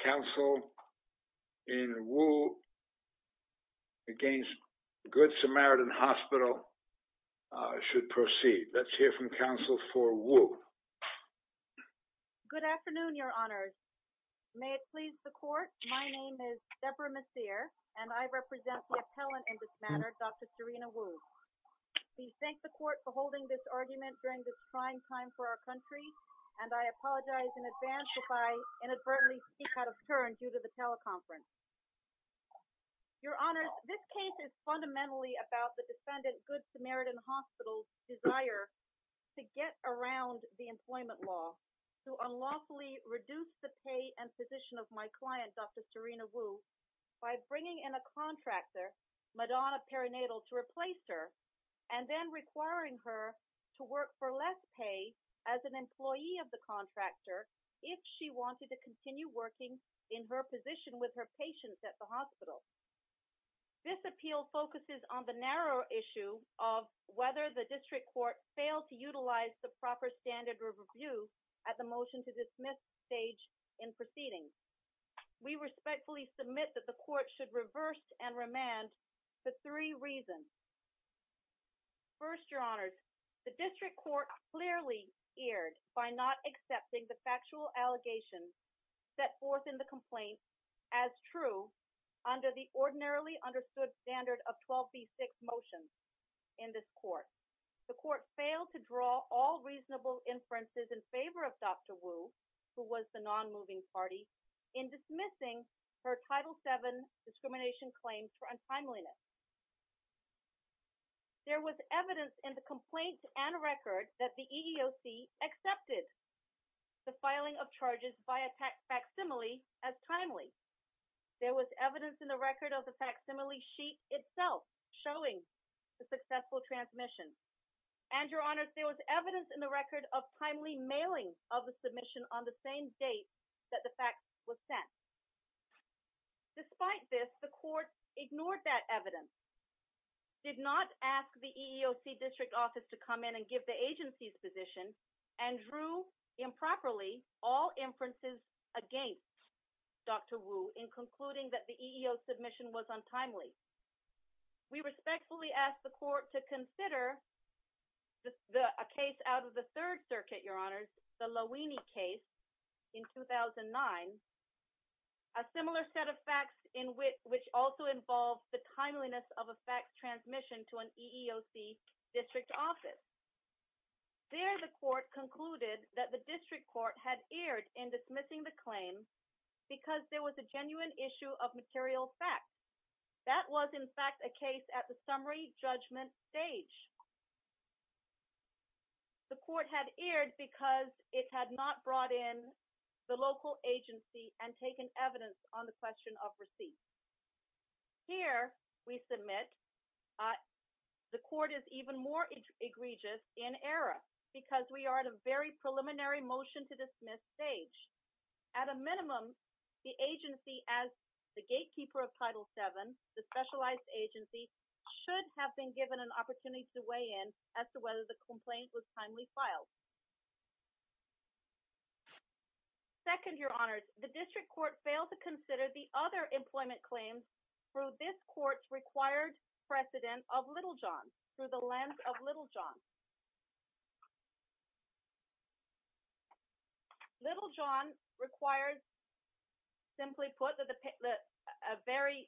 Council in Wu against Good Samaritan Hospital should proceed. Let's hear from Council for Wu. Good afternoon, Your Honors. May it please the Court, my name is Deborah Messir, and I represent the appellant in this matter, Dr. Serena Wu. We thank the Court for holding this argument during this trying time for our country, and I apologize in advance if inadvertently speak out of turn due to the teleconference. Your Honors, this case is fundamentally about the defendant Good Samaritan Hospital's desire to get around the employment law, to unlawfully reduce the pay and position of my client, Dr. Serena Wu, by bringing in a contractor, Madonna Perinatal, to replace her, and then wanted to continue working in her position with her patients at the hospital. This appeal focuses on the narrow issue of whether the District Court failed to utilize the proper standard review at the motion to dismiss stage in proceedings. We respectfully submit that the Court should reverse and remand for three reasons. First, Your Honors, the District Court's factual allegations set forth in the complaint as true under the ordinarily understood standard of 12b6 motions in this Court. The Court failed to draw all reasonable inferences in favor of Dr. Wu, who was the non-moving party, in dismissing her Title VII discrimination claims for untimeliness. There was evidence in the complaint and record that the EEOC accepted the filing of charges by a facsimile as timely. There was evidence in the record of the facsimile sheet itself showing the successful transmission. And, Your Honors, there was evidence in the record of timely mailing of the submission on the same date that the fact was sent. Despite this, the Court ignored that evidence, did not ask the EEOC District Office to come in and give the agency's position, and drew improperly all inferences against Dr. Wu in concluding that the EEOC submission was untimely. We respectfully ask the Court to consider a case out of the Third Circuit, Your Honors, the Louini case in 2009, a similar set of facts in which also involved the EEOC. Here, the Court concluded that the District Court had erred in dismissing the claim because there was a genuine issue of material facts. That was, in fact, a case at the summary judgment stage. The Court had erred because it had not brought in the local agency and taken evidence on the we are at a very preliminary motion-to-dismiss stage. At a minimum, the agency, as the gatekeeper of Title VII, the specialized agency, should have been given an opportunity to weigh in as to whether the complaint was timely filed. Second, Your Honors, the District Court failed to consider the other employment claims through this Court's required precedent of Littlejohn, through the lens of Littlejohn. Littlejohn requires, simply put, a very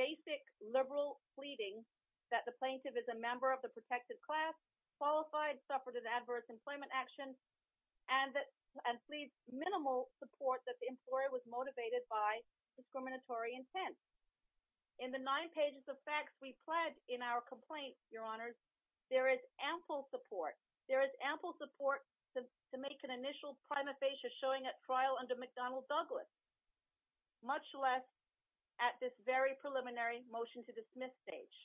basic liberal pleading that the plaintiff is a member of the protected class, qualified, suffered an adverse employment action, and pleads minimal support that the employer was motivated by discriminatory intent. In the nine pages of in our complaint, Your Honors, there is ample support. There is ample support to make an initial prima facie showing at trial under McDonnell Douglas, much less at this very preliminary motion-to-dismiss stage.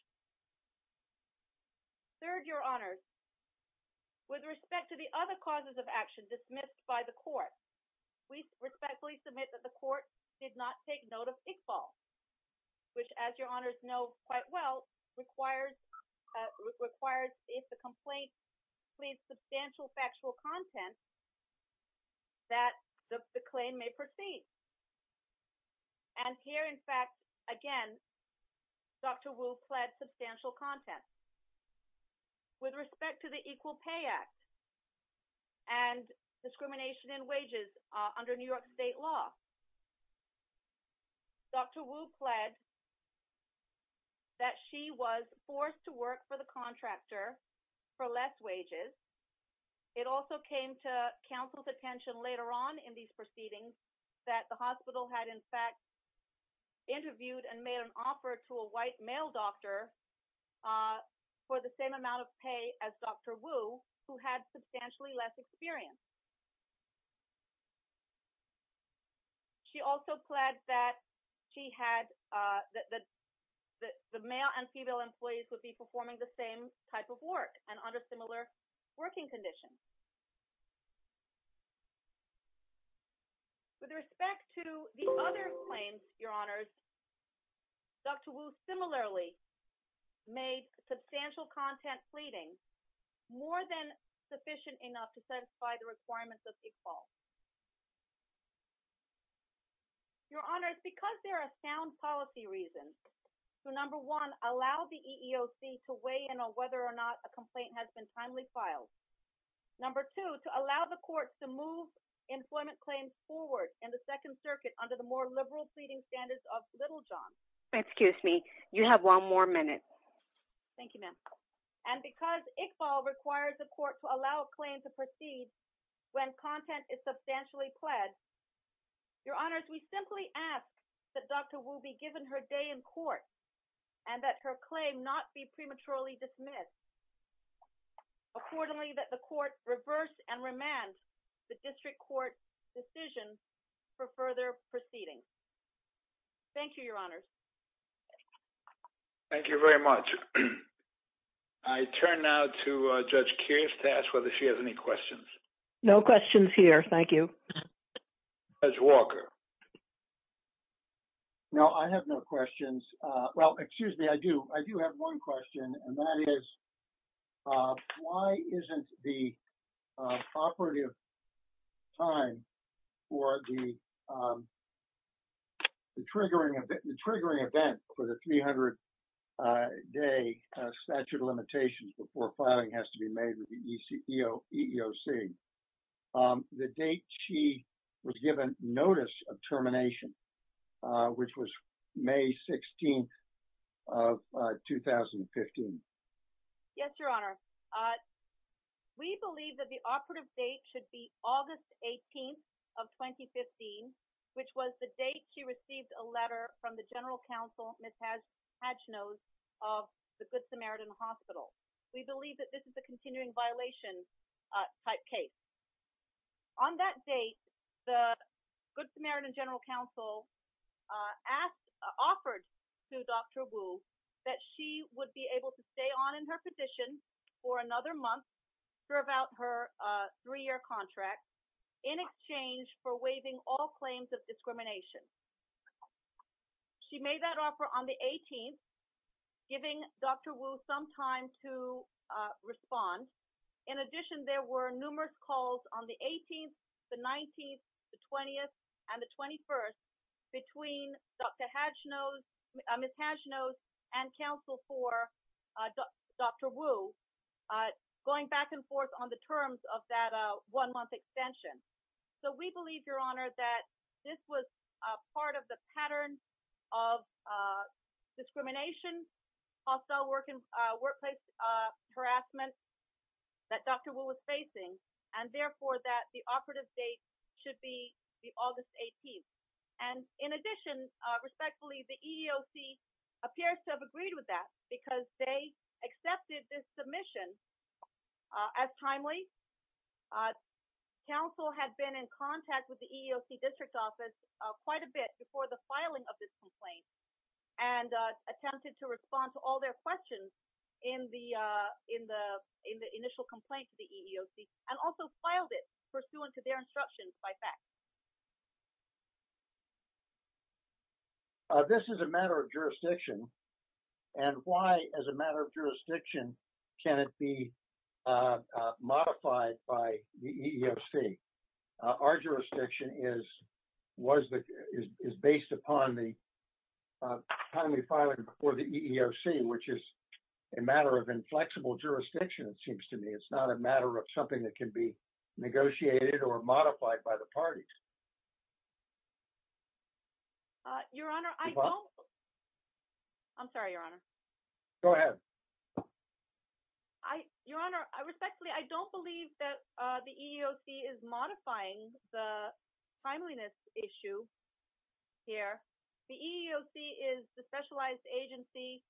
Third, Your Honors, with respect to the other causes of action dismissed by the Court, we respectfully submit that the Court did not take note of Iqbal, which, as Your Honors know quite well, requires if the complaint pleads substantial factual content that the claim may proceed. And here, in fact, again, Dr. Wu pled substantial content. With respect to the Equal Pay Act and discrimination in wages under New York State law, Dr. Wu pled that she was forced to work for the contractor for less wages. It also came to counsel's attention later on in these proceedings that the hospital had, in fact, interviewed and made an offer to a white male doctor for the same amount of pay as Dr. Wu, who had substantially less experience. She also pled that the male and female employees would be performing the same type of work and under similar working conditions. With respect to the other claims, Your Honors, Dr. Wu similarly made substantial content pleading more than sufficient enough to satisfy the requirements of Iqbal. Your Honors, because there are sound policy reasons to, number one, allow the EEOC to weigh in on whether or not a complaint has been timely filed, number two, to allow the Court to move employment claims forward in the Second Circuit under the liberal pleading standards of Littlejohn. And because Iqbal requires the Court to allow a claim to proceed when content is substantially pled, Your Honors, we simply ask that Dr. Wu be given her day in court and that her claim not be prematurely dismissed. Accordingly, the Court reverse and remand the District Court's decision for further proceedings. Thank you, Your Honors. Thank you very much. I turn now to Judge Kears to ask whether she has any questions. No questions here. Thank you. Judge Walker. No, I have no questions. Well, excuse me, I do. I do have one question, and that is, why isn't the operative time for the triggering event for the 300-day statute of limitations before filing has to be made with the EEOC? The date she was given notice of termination, which was May 16th of 2015. Yes, Your Honor. We believe that the operative date should be August 18th of 2015, which was the date she received a letter from the General Counsel, Ms. Hatchnose, of the Good Samaritan Hospital. We believe that this is a continuing violation type case. On that date, the Good Samaritan General Counsel offered to Dr. Wu that she would be able to stay on in her position for another month throughout her three-year contract in exchange for waiving all claims of discrimination. She made that offer on the 18th, giving Dr. Wu some time to respond. In addition, there were numerous calls on the 18th, the 19th, the 20th, and the 21st between Ms. Hatchnose and counsel for Dr. Wu, going back and forth on the terms of that one-month extension. So we believe, Your Honor, that this was part of the pattern of discrimination, hostile workplace harassment that Dr. Wu was facing, and therefore that the operative date should be the August 18th. And in addition, respectfully, the EEOC appears to have agreed with that because they accepted this submission as timely. Counsel had been in contact with the EEOC District Office quite a bit before the filing of this complaint and attempted to respond to all their questions in the initial complaint to the EEOC, and also filed it pursuant to their instructions by fax. This is a matter of jurisdiction, and why, as a matter of jurisdiction, can it be modified by the EEOC? Our jurisdiction is based upon the timely filing before the EEOC, which is a matter of inflexible jurisdiction, it seems to me. It's not a matter of something that can be modified by the EEOC. Your Honor, I don't... I'm sorry, Your Honor. Go ahead. Your Honor, respectfully, I don't believe that the EEOC is modifying the timeliness issue here. The EEOC is the specialized agency,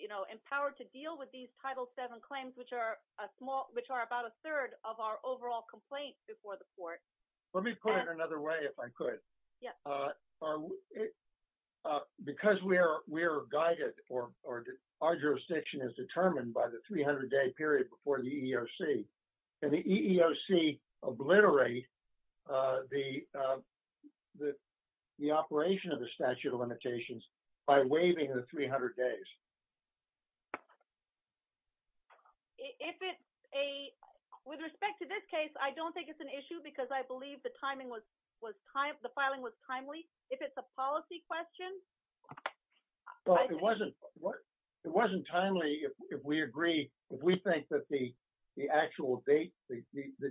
you know, empowered to deal with these Title VII claims, which are about a third of our overall complaints before the Court. Let me put it another way, if I could. Because we are guided, or our jurisdiction is determined by the 300-day period before the EEOC, can the EEOC obliterate the operation of the statute of limitations? With respect to this case, I don't think it's an issue because I believe the timing was timely, the filing was timely. If it's a policy question... It wasn't timely if we agree, if we think that the actual date, the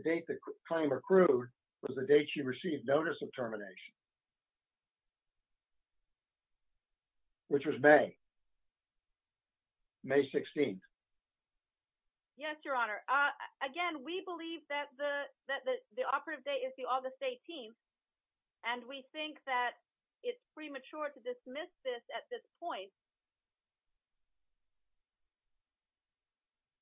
date the claim accrued was the date she received notice of termination, which was May. May 16th. Yes, Your Honor. Again, we believe that the operative date is the August 18th, and we think that it's premature to dismiss this at this point.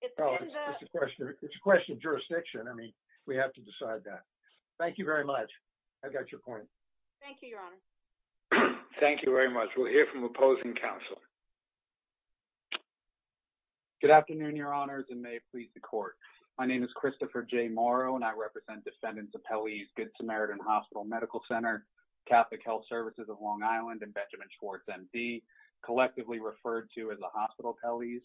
It's a question of jurisdiction. I mean, we have to decide that. Thank you very much. I got your point. Thank you, Your Honor. Thank you very much. We'll hear from the opposing counselor. Good afternoon, Your Honors, and may it please the Court. My name is Christopher J. Morrow, and I represent defendants of Pelley's Good Samaritan Hospital Medical Center, Catholic Health Services of Long Island, and Benjamin Schwartz MD, collectively referred to as the Hospital Pelley's.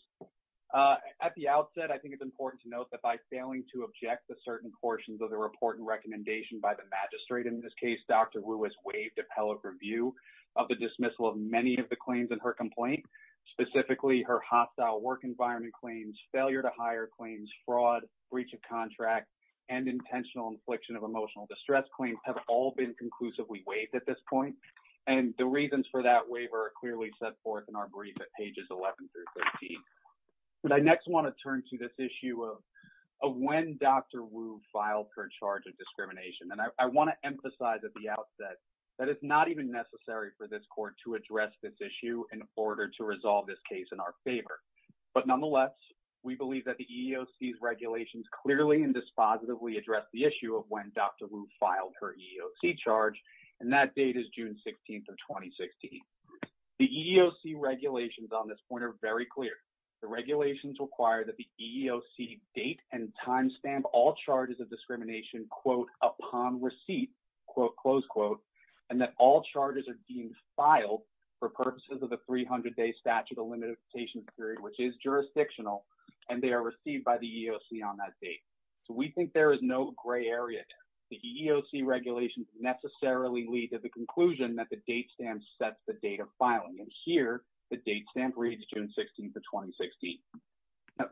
At the outset, I think it's important to note that by failing to object to certain portions of the report and recommendation by the magistrate, in this case, Dr. Ruiz waived appellate review of the dismissal of many of the claims in her complaint, specifically her hostile work environment claims, failure to hire claims, fraud, breach of contract, and intentional infliction of emotional distress claims have all been conclusively waived at this point, and the reasons for that waiver are clearly set forth in our brief at pages 11 through 13. But I next want to turn to this issue of when Dr. Ruiz filed her charge of discrimination, and I want to emphasize at the outset that it's not even necessary for this Court to address this issue in order to resolve this case in our favor. But nonetheless, we believe that the EEOC's regulations clearly and dispositively address the issue of when Dr. Ruiz filed her EEOC charge, and that date is June 16th of 2016. The EEOC regulations on this point are very clear. The regulations require that the EEOC date and timestamp all charges of discrimination quote, upon receipt, quote, close quote, and that all charges are being filed for purposes of the 300-day statute of limitations period, which is jurisdictional, and they are received by the EEOC on that date. So we think there is no gray area there. The EEOC regulations necessarily lead to the conclusion that the date stamp sets the date of filing, and here the date stamp reads June 16th of 2016.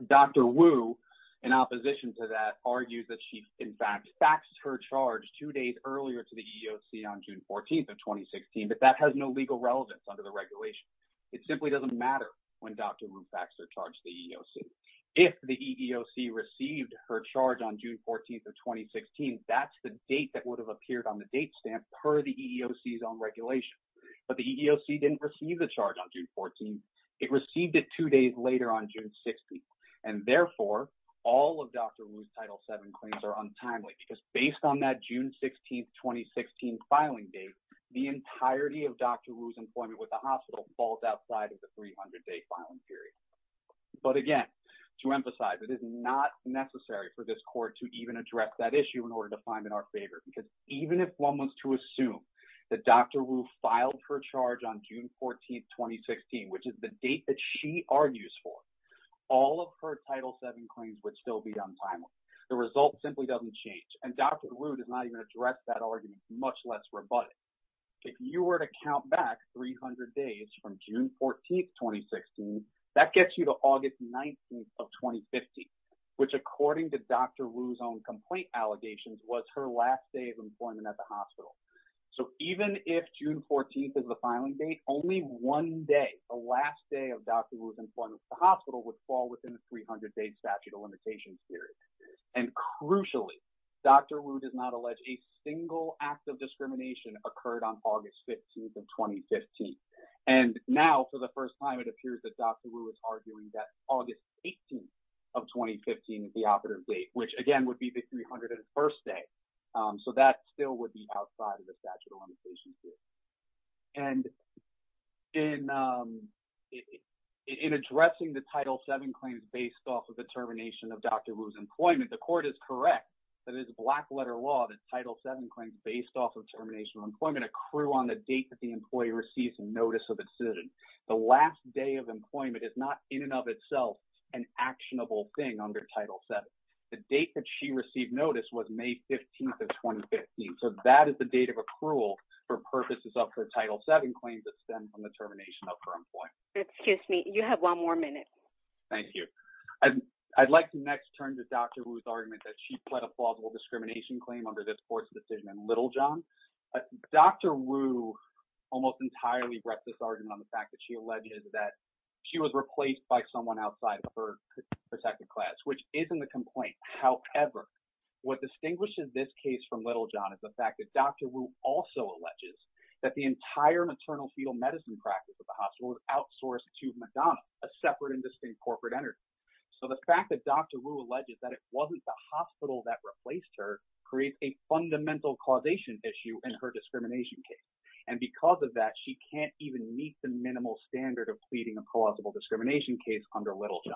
Dr. Wu, in opposition to that, argues that she, in fact, faxed her charge two days earlier to the EEOC on June 14th of 2016, but that has no legal relevance under the regulation. It simply doesn't matter when Dr. Wu faxed her charge to the EEOC. If the EEOC received her charge on June 14th of 2016, that's the date that would have appeared on the date stamp per the EEOC's own regulation, but the EEOC didn't receive the charge on June 14th. It received it two days later on June 16th, and therefore all of Dr. Wu's Title VII claims are untimely because based on that June 16th, 2016 filing date, the entirety of Dr. Wu's employment with the hospital falls outside of the 300-day filing period, but again, to emphasize, it is not necessary for this court to even address that issue in order to find it our favor because even if one was to assume that Dr. Wu filed her charge on June 14th, 2016, which is the date that she argues for, all of her Title VII claims would still be untimely. The result simply doesn't change, and Dr. Wu does not even address that argument, much less rebut it. If you were to count back 300 days from June 14th, 2016, that gets you to August 19th of 2015, which according to Dr. Wu's own complaint allegations was her last day of employment at the hospital, so even if June 14th is the filing date, only one day, the last day of Dr. Wu's employment with the hospital would fall within the 300-day statute of limitations period, and crucially, Dr. Wu does not allege a single act of discrimination occurred on August 15th of 2015, and now for the first time, it appears that Dr. Wu is arguing that August 18th of 2015 is the operative date, which again would be the 301st day, so that still would be outside of the statute of limitations period, and in addressing the Title VII claims based off of the termination of Dr. Wu's employment, the court is correct that it is black letter law that Title VII claims based off of termination of employment accrue on the date that the employee receives a notice of excision. The last day of employment is not in and of itself an actionable thing under Title VII. The date that she received notice was May 15th of 2015, so that is the date of accrual for purposes of her Title VII claims that stem from the termination of her employment. Excuse me. You have one more minute. Thank you. I'd like to next turn to Dr. Wu's argument that she pled a plausible discrimination claim under this court's decision in Littlejohn. Dr. Wu almost entirely wrecked this argument on the fact that she alleges that she was replaced by someone outside of her protected class, which isn't a complaint. However, what distinguishes this case from Littlejohn is the fact that Dr. Wu also alleges that the entire maternal fetal medicine practice of the hospital was outsourced to Madonna, a separate and distinct corporate entity. So the fact that Dr. Wu alleges that it wasn't the hospital that replaced her creates a fundamental causation issue in her discrimination case. And because of that, she can't even meet the minimal standard of pleading a plausible discrimination case under Littlejohn.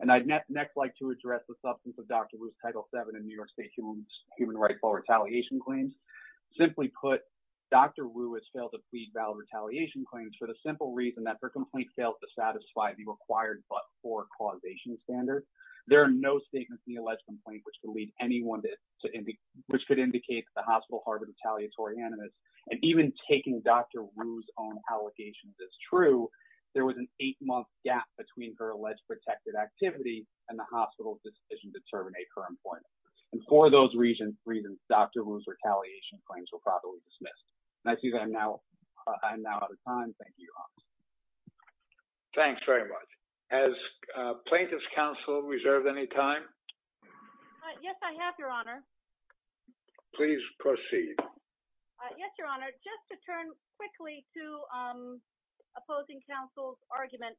And I'd next like to address the substance of Dr. Wu's Title VII in New York State human rightful retaliation claims. Simply put, Dr. Wu has failed to plead valid retaliation claims for the simple reason that her complaint failed to satisfy the required but for causation standard. There are no statements in the alleged complaint which could lead anyone to, which could indicate the hospital harbor retaliatory animus. And even taking Dr. Wu's own allegations as true, there was an eight month gap between her alleged protected activity and the hospital's decision to terminate her appointment. And for those reasons, Dr. Wu's retaliation claims were properly dismissed. And I see that I'm now out of time. Thank you, Your Honor. Thanks very much. Has plaintiff's counsel reserved any time? Yes, I have, Your Honor. Please proceed. Yes, Your Honor. Just to turn quickly to opposing counsel's argument.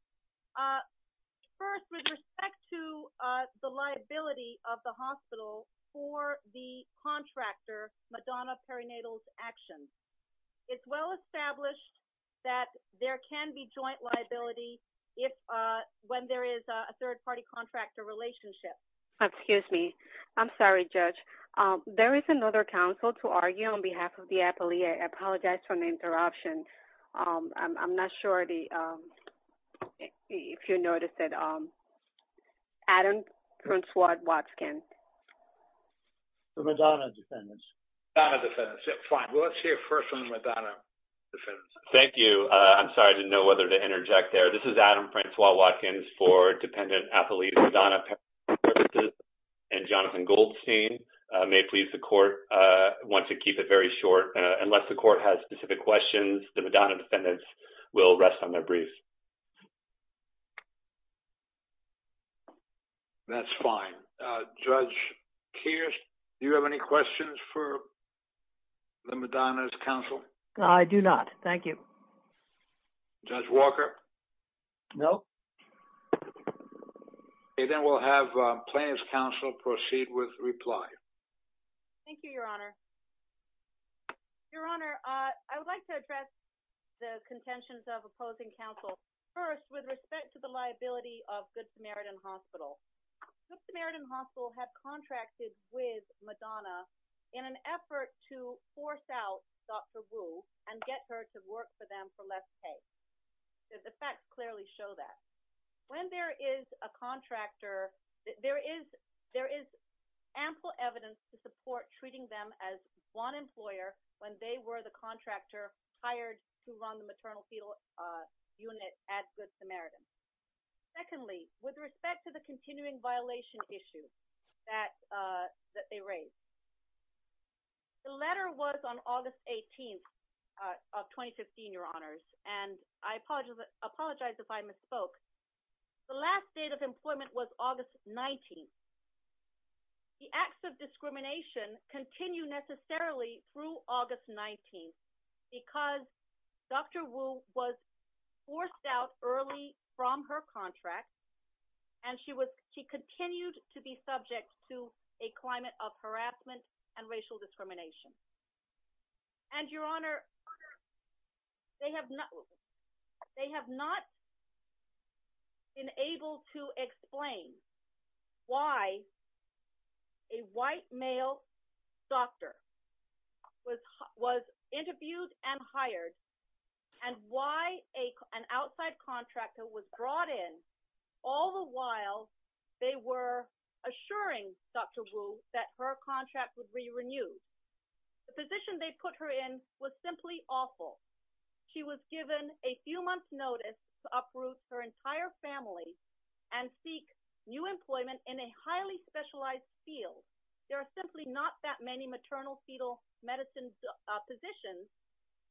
First, with respect to the liability of the hospital for the contractor, Madonna Perinatal Action. It's well established that there can be joint liability if, when there is a third party contractor relationship. Excuse me. I'm sorry, Judge. There is another counsel to argue on behalf of the appellee. I apologize for the interruption. I'm not sure if you noticed that Adam Francois-Watkins. The Madonna defendants. The Madonna defendants. Yeah, fine. Well, let's hear first from the Madonna defendants. Thank you. I'm sorry. I didn't know whether to interject there. This is Adam Francois-Watkins for dependent appellee, Madonna Perinatal Action. And Jonathan Goldstein, may it please the court, wants to keep it very short. Unless the court has specific questions, the Madonna defendants will rest on their briefs. That's fine. Judge Kears, do you have any questions for the Madonna's counsel? I do not. Thank you. Judge Walker? No. Okay, then we'll have plaintiff's counsel proceed with reply. Thank you, Your Honor. Your Honor, I would like to address the contentions of opposing counsel. First, with respect to the liability of Good Samaritan Hospital. Good Samaritan Hospital had contracted with Madonna in an effort to force out Dr. Wu and get her to work for them for less pay. The facts clearly show that. When there is a contractor, there is ample evidence to support treating them as one employer when they were the contractor hired to run the maternal fetal unit at Good Samaritan. Secondly, with respect to the continuing violation issue that they raised. The letter was on August 18th of 2015, Your Honors, and I apologize if I misspoke. The last date of employment was August 19th. The acts of discrimination continue necessarily through August 19th, because Dr. Wu was forced out early from her contract. And she was she continued to be subject to a climate of harassment and racial discrimination. And Your Honor, Your Honor, they have not been able to explain why a white male doctor was interviewed and hired, and why an outside contractor was brought in, all the while they were assuring Dr. Wu that her employment was simply awful. She was given a few months notice to uproot her entire family and seek new employment in a highly specialized field. There are simply not that many maternal fetal medicine positions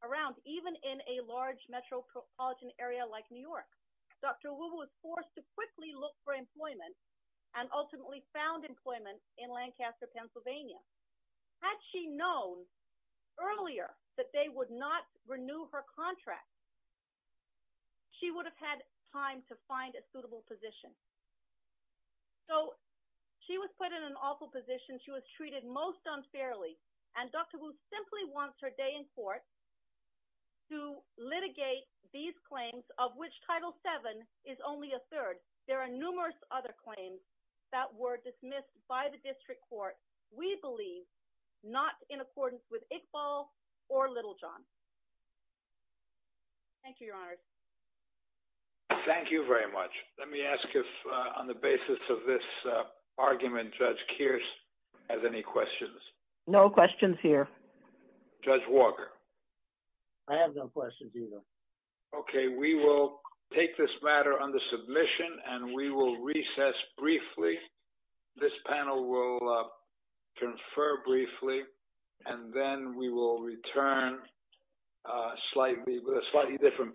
around even in a large metropolitan area like New York. Dr. Wu was forced to quickly look for employment, and ultimately found employment in Lancaster, Pennsylvania. Had she known earlier that they would not renew her contract, she would have had time to find a suitable position. So she was put in an awful position, she was treated most unfairly, and Dr. Wu simply wants her day in court to litigate these claims of which Title VII is only a third. There are numerous other claims that were dismissed by the district court, we believe, not in accordance with Iqbal or Littlejohn. Thank you, Your Honor. Thank you very much. Let me ask if on the basis of this argument, Judge Kearse has any questions? No questions here. Judge Walker? I have no questions, under submission, and we will recess briefly. This panel will confer briefly, and then we will return with a slightly different panel.